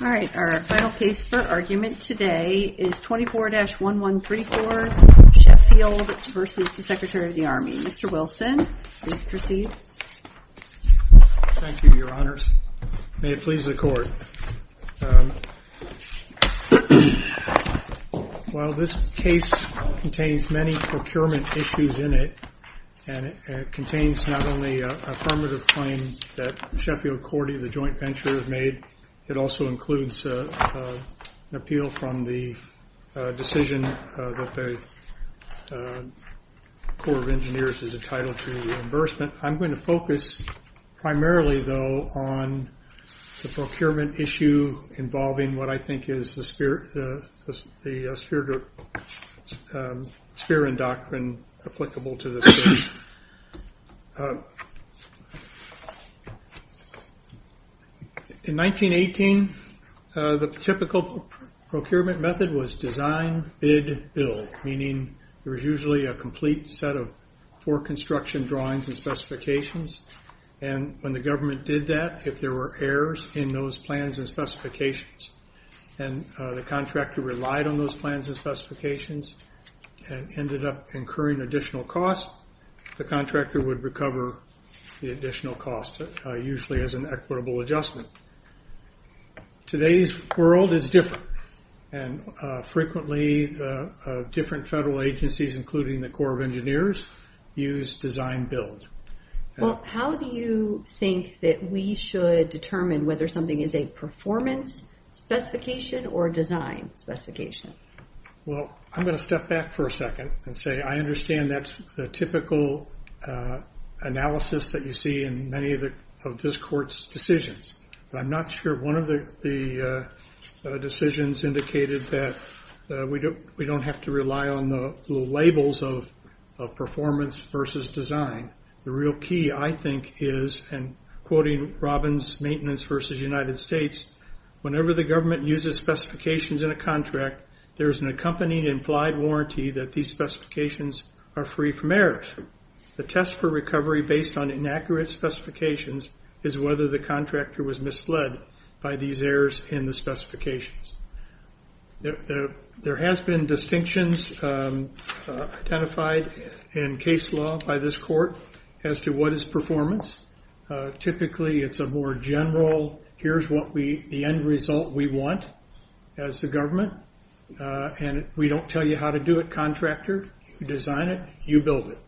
Our final case for argument today is 24-1134 Sheffield v. Secretary of the Army. Mr. Wilson, please proceed. Thank you, Your Honors. May it please the Court. While this case contains many procurement issues in it, and it contains not only an affirmative claim that Sheffield Korte Joint Venture has made, it also includes an appeal from the decision that the Corps of Engineers is entitled to reimbursement, I'm going to focus primarily, though, on the procurement issue involving what I think is the spear and doctrine applicable to this case. In 1918, the typical procurement method was design, bid, build, meaning there was usually a complete set of four construction drawings and specifications, and when the government did that, if there were errors in those plans and specifications, and the contractor relied on those plans and specifications and ended up incurring additional costs, the contractor would recover the additional costs, usually as an equitable adjustment. Today's world is different, and frequently different federal agencies, including the Corps of Engineers, use design, build. Well, how do you think that we should determine whether something is a performance specification or a design specification? Well, I'm going to step back for a second and say I understand that's the typical analysis that you see in many of this Court's decisions, but I'm not sure one of the decisions indicated that we don't have to rely on the labels of performance versus design. The real key, I think, is, and quoting Robbins' maintenance versus United States, whenever the government uses specifications in a contract, there's an accompanying implied warranty that these specifications are free from errors. In fact, the test for recovery based on inaccurate specifications is whether the contractor was misled by these errors in the specifications. There has been distinctions identified in case law by this Court as to what is performance. Typically, it's a more general, here's the end result we want as the government, and we don't tell you how to do it, contractor. You design it, you build it.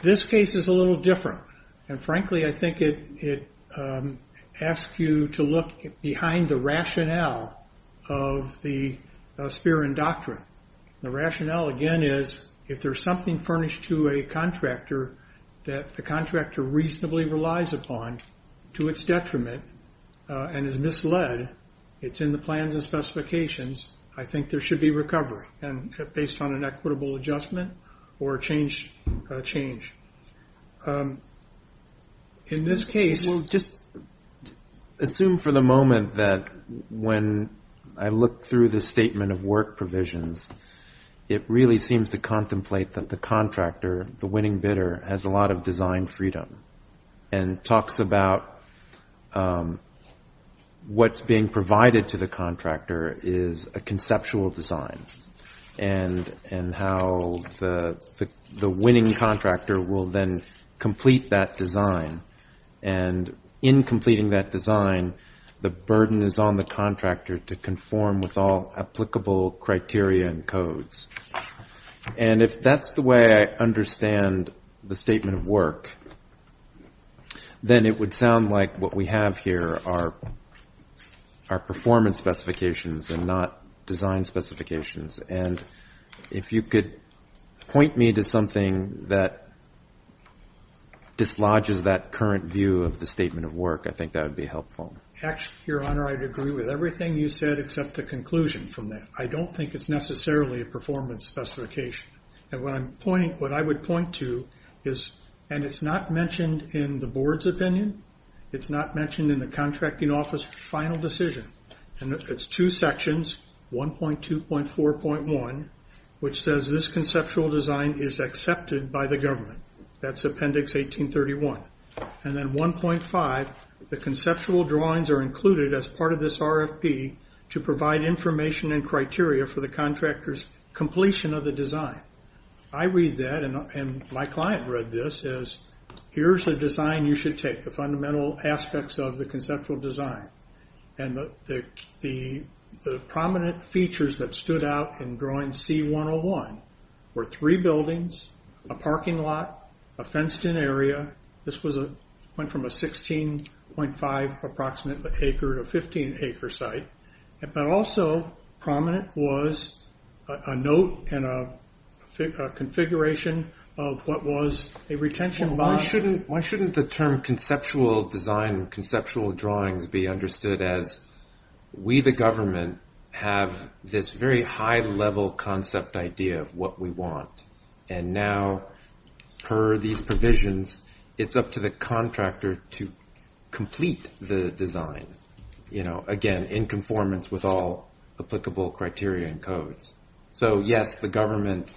This case is a little different, and frankly, I think it asks you to look behind the rationale of the sphere and doctrine. The rationale, again, is if there's something furnished to a contractor that the contractor reasonably relies upon to its detriment and is misled, it's in the plans and specifications, I think there should be recovery based on an equitable adjustment or a change. In this case, we'll just assume for the moment that when I look through the statement of work provisions, it really seems to contemplate that the contractor, the winning bidder, has a lot of design freedom and talks about what's being provided to the contractor is a conceptual design and how the winning contractor will then complete that design. And in completing that design, the burden is on the contractor to conform with all applicable criteria and codes. And if that's the way I understand the statement of work, then it would sound like what we have here are performance specifications and not design specifications. And if you could point me to something that dislodges that current view of the statement of work, I think that would be helpful. Actually, Your Honor, I'd agree with everything you said except the conclusion from that. I don't think it's necessarily a performance specification. And what I would point to is, and it's not mentioned in the board's opinion, it's not mentioned in the contracting office final decision. And it's two sections, 1.2.4.1, which says this conceptual design is accepted by the government. That's Appendix 1831. And then 1.5, the conceptual drawings are included as part of this RFP to provide information and criteria for the contractor's completion of the design. I read that, and my client read this, as here's a design you should take, the fundamental aspects of the conceptual design. And the prominent features that stood out in drawing C-101 were three buildings, a parking lot, a fenced-in area. This went from a 16.5-approximate acre to a 15-acre site. But also prominent was a note and a configuration of what was a retention bond. Why shouldn't the term conceptual design and conceptual drawings be understood as, we, the government, have this very high-level concept idea of what we want. And now, per these provisions, it's up to the contractor to complete the design, again, in conformance with all applicable criteria and codes. So, yes, the government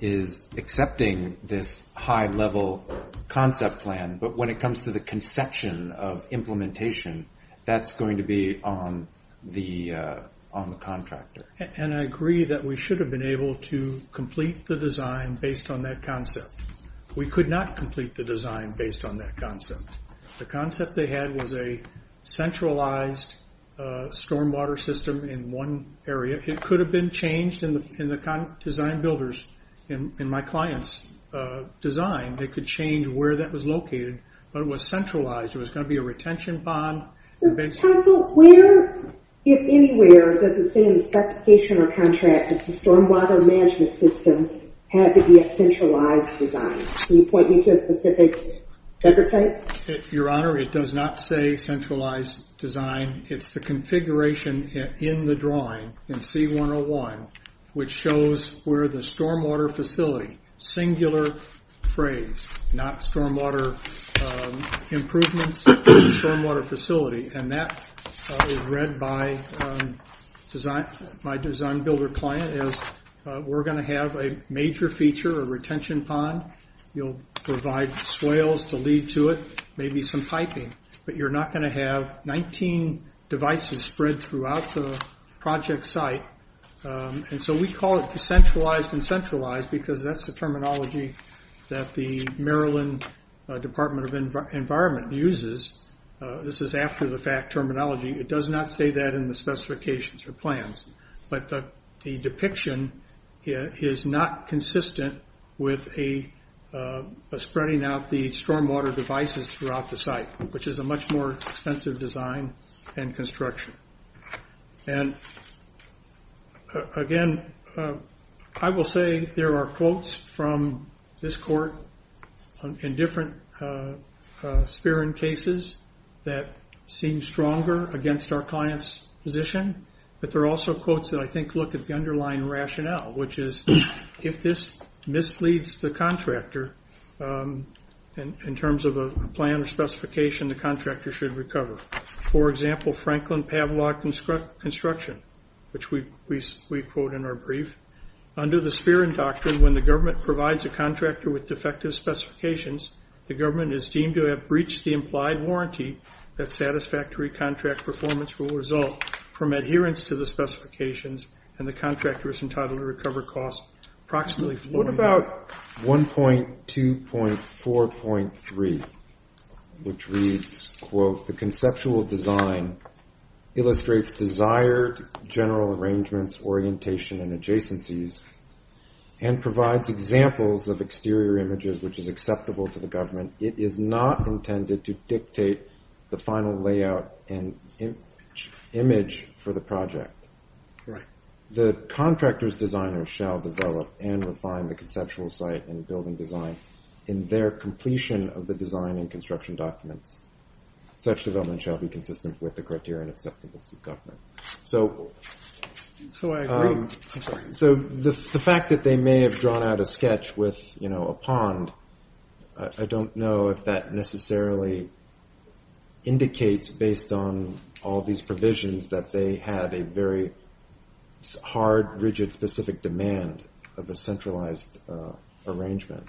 is accepting this high-level concept plan, but when it comes to the conception of implementation, that's going to be on the contractor. And I agree that we should have been able to complete the design based on that concept. We could not complete the design based on that concept. The concept they had was a centralized stormwater system in one area. It could have been changed in the design builders, in my client's design. They could change where that was located, but it was centralized. It was going to be a retention bond. Counsel, where, if anywhere, does it say in the specification or contract that the stormwater management system had to be a centralized design? Can you point me to a specific record site? Your Honor, it does not say centralized design. It's the configuration in the drawing, in C-101, which shows where the stormwater facility, singular phrase, not stormwater improvements, stormwater facility. And that is read by my design builder client as we're going to have a major feature, a retention pond. You'll provide swales to lead to it, maybe some piping. But you're not going to have 19 devices spread throughout the project site. And so we call it decentralized and centralized because that's the terminology that the Maryland Department of Environment uses. This is after-the-fact terminology. It does not say that in the specifications or plans. But the depiction is not consistent with spreading out the stormwater devices throughout the site, which is a much more expensive design and construction. And again, I will say there are quotes from this court in different Speran cases that seem stronger against our client's position. But there are also quotes that I think look at the underlying rationale, which is if this misleads the contractor in terms of a plan or specification, the contractor should recover. For example, Franklin-Pavlov construction, which we quote in our brief. Under the Speran doctrine, when the government provides a contractor with defective specifications, the government is deemed to have breached the implied warranty that satisfactory contract performance will result from adherence to the specifications and the contractor is entitled to recover costs approximately. What about 1.2.4.3, which reads, quote, the conceptual design illustrates desired general arrangements, orientation, and adjacencies and provides examples of exterior images, which is acceptable to the government. It is not intended to dictate the final layout and image for the project. The contractor's designer shall develop and refine the conceptual site and building design in their completion of the design and construction documents. Such development shall be consistent with the criteria and acceptability of government. So the fact that they may have drawn out a sketch with a pond, I don't know if that necessarily indicates based on all these provisions that they had a very hard, rigid, specific demand of a centralized arrangement.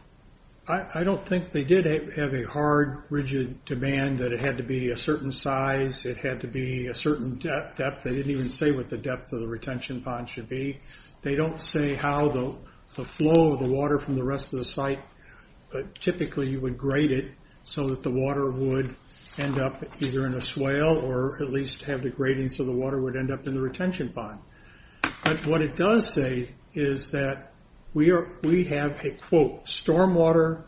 I don't think they did have a hard, rigid demand that it had to be a certain size. It had to be a certain depth. They didn't even say what the depth of the retention pond should be. They don't say how the flow of the water from the rest of the site, but typically you would grade it so that the water would end up either in a swale or at least have the grading so the water would end up in the retention pond. But what it does say is that we have a, quote, stormwater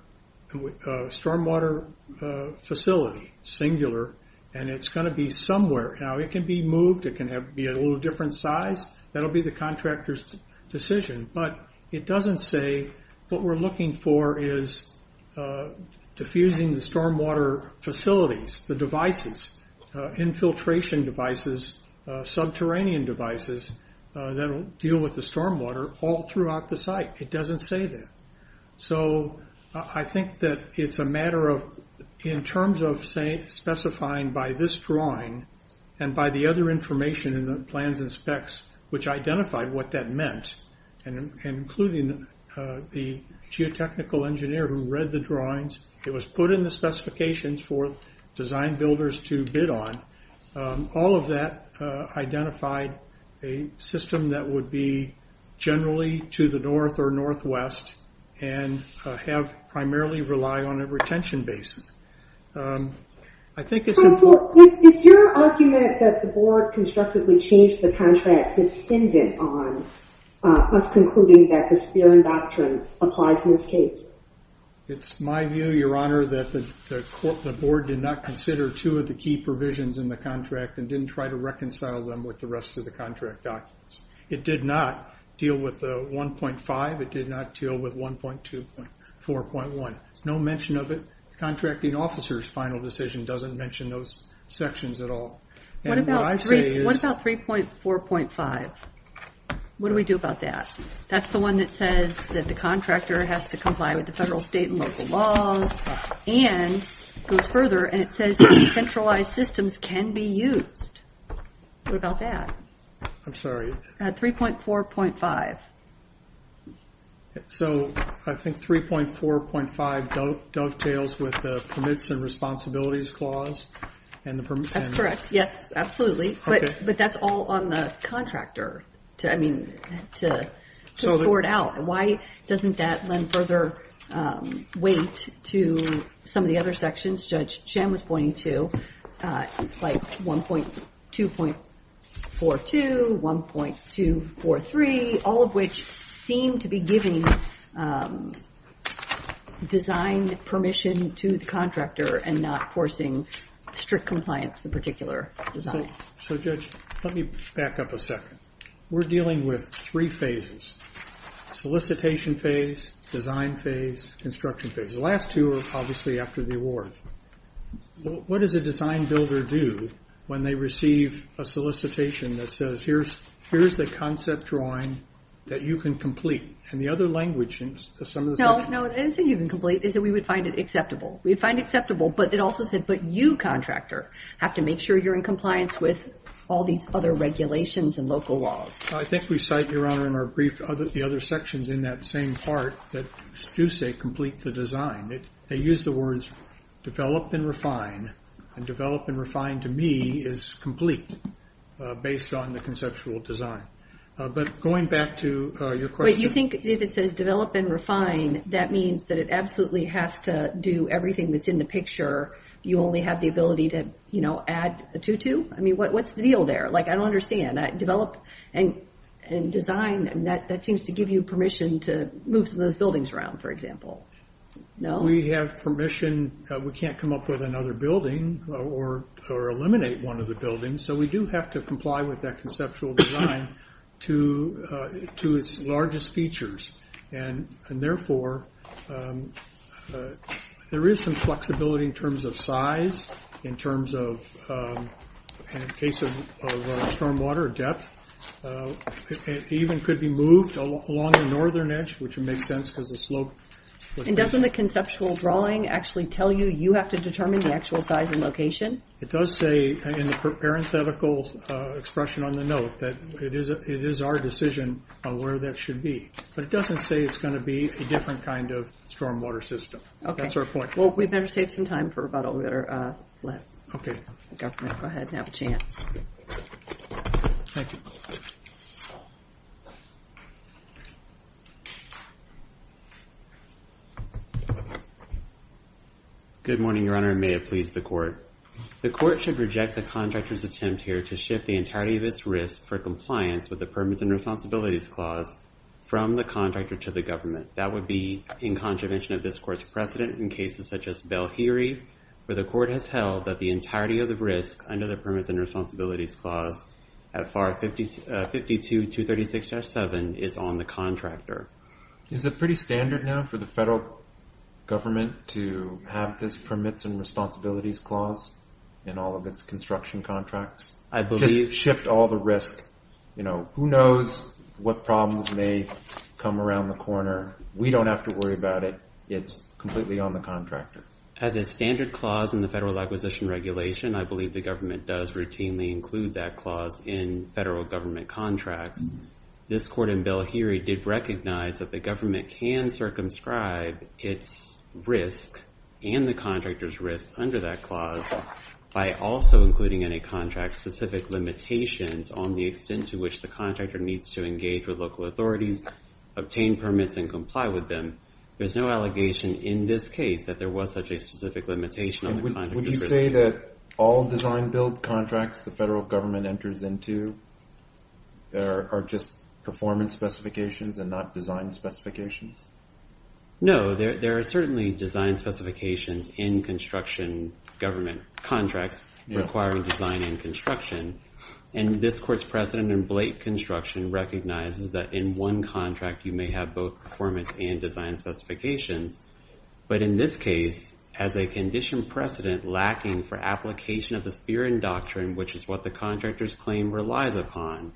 facility, singular, and it's going to be somewhere. Now, it can be moved. It can be a little different size. That will be the contractor's decision, but it doesn't say what we're looking for is diffusing the stormwater facilities, the devices, infiltration devices, subterranean devices that will deal with the stormwater all throughout the site. It doesn't say that. So I think that it's a matter of in terms of specifying by this drawing and by the other information in the plans and specs which identify what that meant, including the geotechnical engineer who read the drawings. It was put in the specifications for design builders to bid on. All of that identified a system that would be generally to the north or northwest and have primarily relied on a retention basin. I think it's important. Is your argument that the board constructively changed the contract dependent on us concluding that the Spearman Doctrine applies in this case? It's my view, Your Honor, that the board did not consider two of the key provisions in the contract and didn't try to reconcile them with the rest of the contract documents. It did not deal with 1.5. It did not deal with 1.4.1. There's no mention of it. The contracting officer's final decision doesn't mention those sections at all. What about 3.4.5? What do we do about that? That's the one that says that the contractor has to comply with the federal, state, and local laws and goes further and it says decentralized systems can be used. What about that? I'm sorry. 3.4.5. So I think 3.4.5 dovetails with the Permits and Responsibilities Clause. That's correct. Yes, absolutely. But that's all on the contractor to sort out. Why doesn't that lend further weight to some of the other sections Judge Chen was pointing to, like 1.2.42, 1.2.43, all of which seem to be giving design permission to the contractor and not forcing strict compliance with a particular design? So, Judge, let me back up a second. We're dealing with three phases, solicitation phase, design phase, construction phase. The last two are obviously after the award. What does a design builder do when they receive a solicitation that says, here's the concept drawing that you can complete? And the other language in some of the sections… No, it doesn't say you can complete. It says we would find it acceptable. We would find it acceptable, but it also said, but you, contractor, have to make sure you're in compliance with all these other regulations and local laws. I think we cite, Your Honor, in the other sections in that same part that do say complete the design. They use the words develop and refine, and develop and refine, to me, is complete based on the conceptual design. But going back to your question… But you think if it says develop and refine, that means that it absolutely has to do everything that's in the picture. You only have the ability to, you know, add a tutu? I mean, what's the deal there? Like, I don't understand. Develop and design, that seems to give you permission to move some of those buildings around, for example. No? We have permission. We can't come up with another building or eliminate one of the buildings, so we do have to comply with that conceptual design to its largest features. And therefore, there is some flexibility in terms of size, in terms of, in the case of stormwater, depth. It even could be moved along the northern edge, which would make sense because the slope… And doesn't the conceptual drawing actually tell you you have to determine the actual size and location? It does say in the parenthetical expression on the note that it is our decision on where that should be. But it doesn't say it's going to be a different kind of stormwater system. Okay. That's our point. Well, we better save some time for rebuttal. We better let the government go ahead and have a chance. Thank you. Good morning, Your Honor, and may it please the Court. The Court should reject the contractor's attempt here to shift the entirety of its risk for compliance with the Permits and Responsibilities Clause from the contractor to the government. That would be in contravention of this Court's precedent in cases such as Belhiri, where the Court has held that the entirety of the risk under the Permits and Responsibilities Clause at FAR 52-236-7 is on the contractor. Is it pretty standard now for the federal government to have this Permits and Responsibilities Clause in all of its construction contracts? I believe… Just shift all the risk. You know, who knows what problems may come around the corner. We don't have to worry about it. It's completely on the contractor. As a standard clause in the Federal Acquisition Regulation, I believe the government does routinely include that clause in federal government contracts. This Court in Belhiri did recognize that the government can circumscribe its risk and the contractor's risk under that clause by also including any contract-specific limitations on the extent to which the contractor needs to engage with local authorities, obtain permits, and comply with them. There's no allegation in this case that there was such a specific limitation on the contractor's risk. Would you say that all design-build contracts the federal government enters into are just performance specifications and not design specifications? No. There are certainly design specifications in construction government contracts requiring design and construction, and this Court's precedent in Blake Construction recognizes that in one contract you may have both performance and design specifications. But in this case, as a condition precedent lacking for application of the Spirin Doctrine, which is what the contractor's claim relies upon,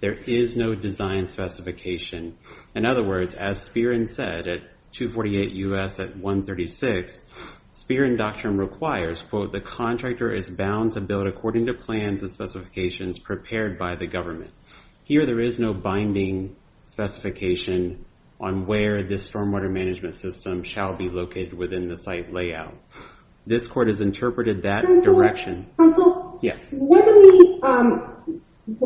there is no design specification. In other words, as Spirin said at 248 U.S. at 136, Spirin Doctrine requires, quote, the contractor is bound to build according to plans and specifications prepared by the government. Here, there is no binding specification on where this stormwater management system shall be located within the site layout. This Court has interpreted that direction. Counsel? Yes.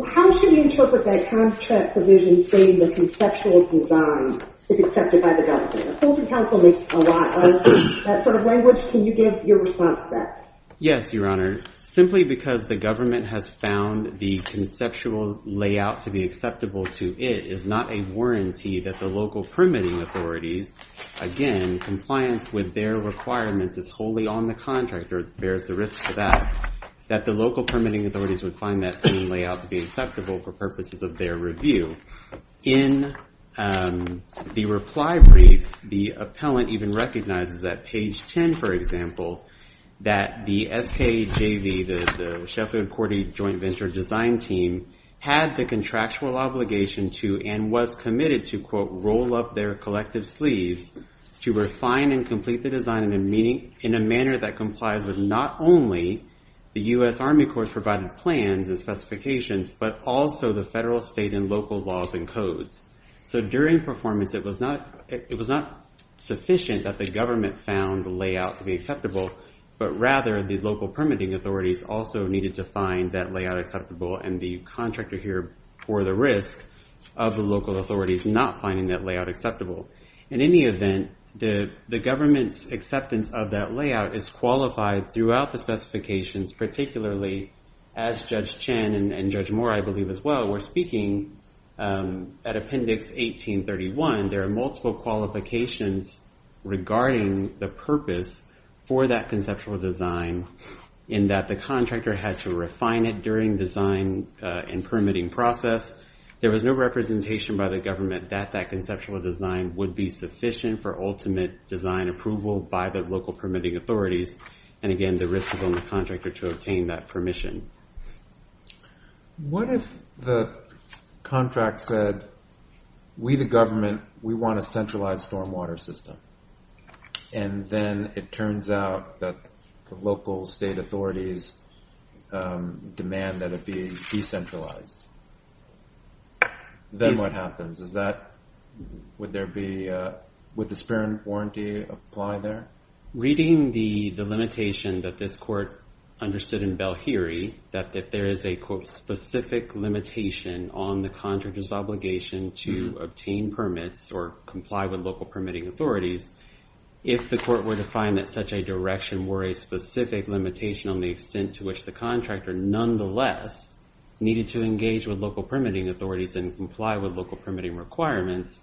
How should we interpret that contract provision saying the conceptual design is accepted by the government? Counsel makes a lot of that sort of language. Can you give your response to that? Yes, Your Honor. Your Honor, simply because the government has found the conceptual layout to be acceptable to it is not a warranty that the local permitting authorities, again, compliance with their requirements is wholly on the contractor, bears the risk for that, that the local permitting authorities would find that same layout to be acceptable for purposes of their review. In the reply brief, the appellant even recognizes that page 10, for example, that the SKJV, the Sheffield and Cordy Joint Venture Design Team, had the contractual obligation to and was committed to, quote, roll up their collective sleeves to refine and complete the design in a manner that complies with not only the U.S. Army Corps' provided plans and specifications, but also the federal, state, and local laws and codes. So during performance, it was not sufficient that the government found the layout to be acceptable, but rather the local permitting authorities also needed to find that layout acceptable, and the contractor here bore the risk of the local authorities not finding that layout acceptable. In any event, the government's acceptance of that layout is qualified throughout the specifications, particularly as Judge Chen and Judge Moore, I believe as well, were speaking at Appendix 1831. There are multiple qualifications regarding the purpose for that conceptual design, in that the contractor had to refine it during design and permitting process. There was no representation by the government that that conceptual design would be sufficient for ultimate design approval by the local permitting authorities, and again, the risk was on the contractor to obtain that permission. What if the contract said, we the government, we want a centralized stormwater system, and then it turns out that the local state authorities demand that it be decentralized? Then what happens? Would the Sperm Warranty apply there? Reading the limitation that this court understood in Belheiri, that there is a, quote, specific limitation on the contractor's obligation to obtain permits or comply with local permitting authorities, if the court were to find that such a direction were a specific limitation on the extent to which the contractor, nonetheless, needed to engage with local permitting authorities and comply with local permitting requirements,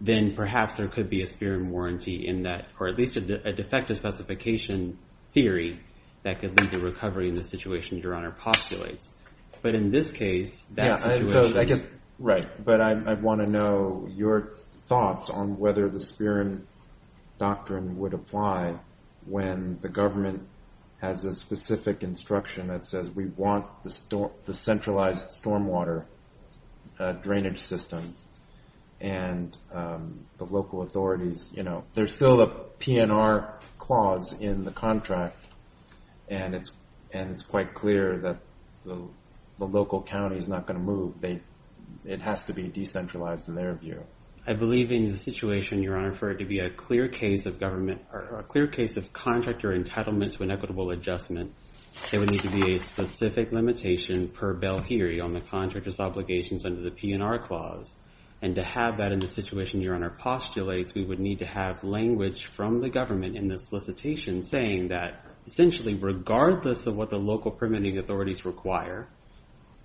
then perhaps there could be a Sperm Warranty in that, or at least a defective specification theory that could lead to recovery in the situation Your Honor postulates. But in this case, that situation... Right, but I want to know your thoughts on whether the Sperm Doctrine would apply when the government has a specific instruction that says, we want the centralized stormwater drainage system, and the local authorities... There's still a PNR clause in the contract, and it's quite clear that the local county is not going to move. It has to be decentralized in their view. I believe in the situation, Your Honor, for it to be a clear case of government, or a clear case of contractor entitlement to an equitable adjustment, there would need to be a specific limitation per Belheiri on the contractor's obligations under the PNR clause. And to have that in the situation Your Honor postulates, we would need to have language from the government in the solicitation saying that, essentially, regardless of what the local permitting authorities require,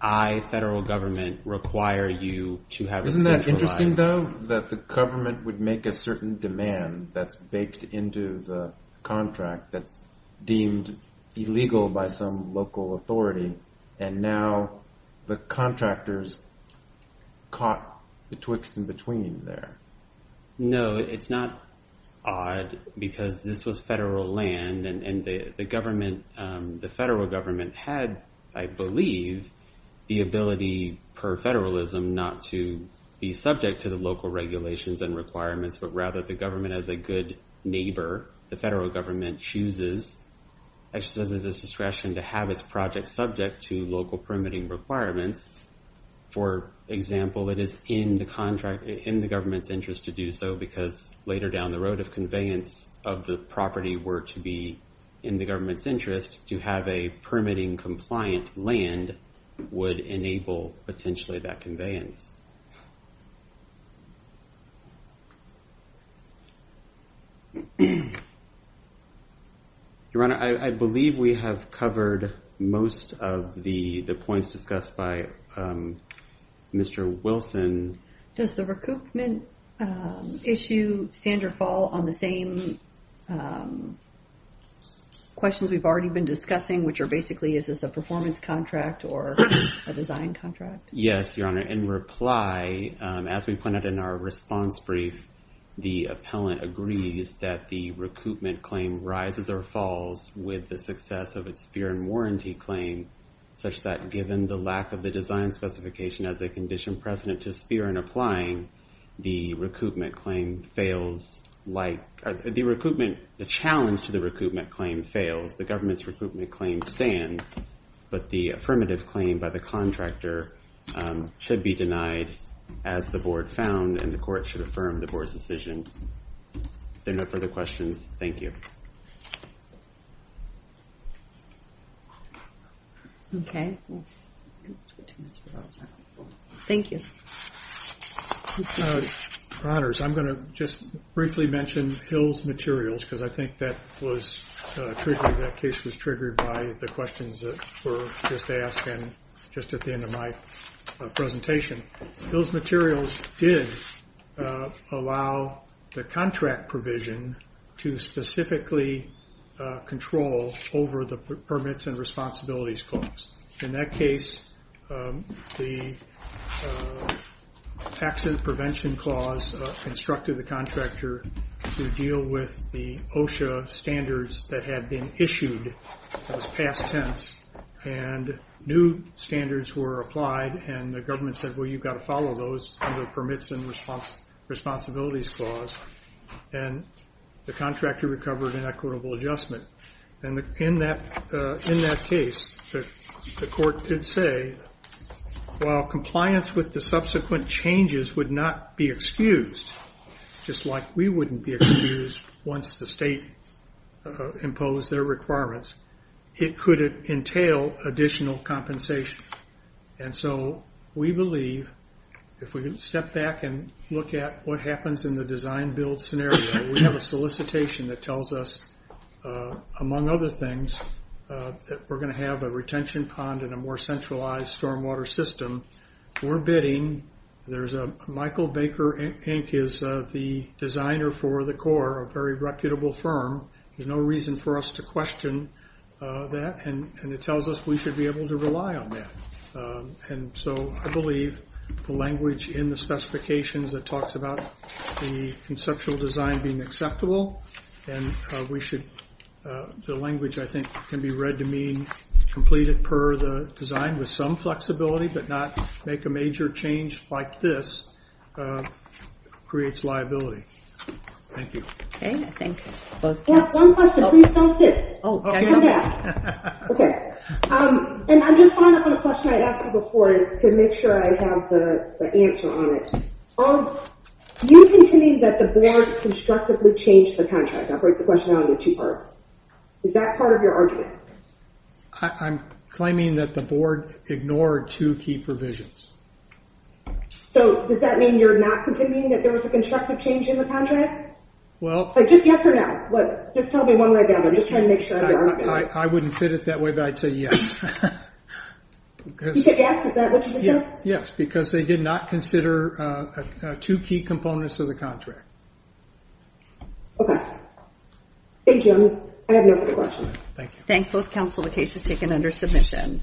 I, federal government, require you to have a centralized... Isn't that interesting, though, that the government would make a certain demand that's baked into the contract that's deemed illegal by some local authority, and now the contractors caught the twixt in between there. No, it's not odd, because this was federal land, and the federal government had, I believe, the ability, per federalism, not to be subject to the local regulations and requirements, but rather the government, as a good neighbor, the federal government chooses, as she says, chooses as discretion to have its project subject to local permitting requirements. For example, it is in the government's interest to do so, because later down the road of conveyance of the property were to be in the government's interest, to have a permitting-compliant land would enable, potentially, that conveyance. Your Honor, I believe we have covered most of the points discussed by Mr. Wilson. Does the recoupment issue stand or fall on the same questions we've already been discussing, which are basically, is this a performance contract or a design contract? Yes, Your Honor. In reply, as we pointed in our response brief, the appellant agrees that the recoupment claim rises or falls with the success of its sphere and warranty claim, such that given the lack of the design specification as a condition precedent to sphere and applying, the recoupment claim fails like, the recoupment, the challenge to the recoupment claim fails. The government's recoupment claim stands, but the affirmative claim by the contractor should be denied as the board found and the court should affirm the board's decision. If there are no further questions, thank you. Thank you. Your Honors, I'm going to just briefly mention Hill's materials, because I think that case was triggered by the questions that were just asked and just at the end of my presentation. Hill's materials did allow the contract provision to specifically control over the permits and responsibilities clause. In that case, the accident prevention clause constructed the contractor to deal with the OSHA standards that had been issued, that was past tense, and new standards were applied and the government said, well, you've got to follow those under the permits and responsibilities clause, and the contractor recovered an equitable adjustment. In that case, the court did say, while compliance with the subsequent changes would not be excused, just like we wouldn't be excused once the state imposed their requirements, it could entail additional compensation. And so we believe, if we step back and look at what happens in the design-build scenario, we have a solicitation that tells us, among other things, that we're going to have a retention pond and a more centralized stormwater system. We're bidding. Michael Baker, Inc., is the designer for the Corps, a very reputable firm. There's no reason for us to question that, and it tells us we should be able to rely on that. And so I believe the language in the specifications that talks about the conceptual design being acceptable and the language, I think, can be read to mean completed per the design with some flexibility but not make a major change like this creates liability. Thank you. Okay, thank you. I have one question. Please don't sit. Oh, can I come in? Okay. And I'm just following up on a question I asked you before to make sure I have the answer on it. You continue that the board constructively changed the contract. I'll break the question down into two parts. Is that part of your argument? I'm claiming that the board ignored two key provisions. So does that mean you're not continuing that there was a constructive change in the contract? Just yes or no? Just tell me one way or the other. I wouldn't fit it that way, but I'd say yes. You said yes? Is that what you just said? Yes, because they did not consider two key components of the contract. Okay. Thank you. I have no further questions. Thank you. Thank both counsel. The case is taken under submission.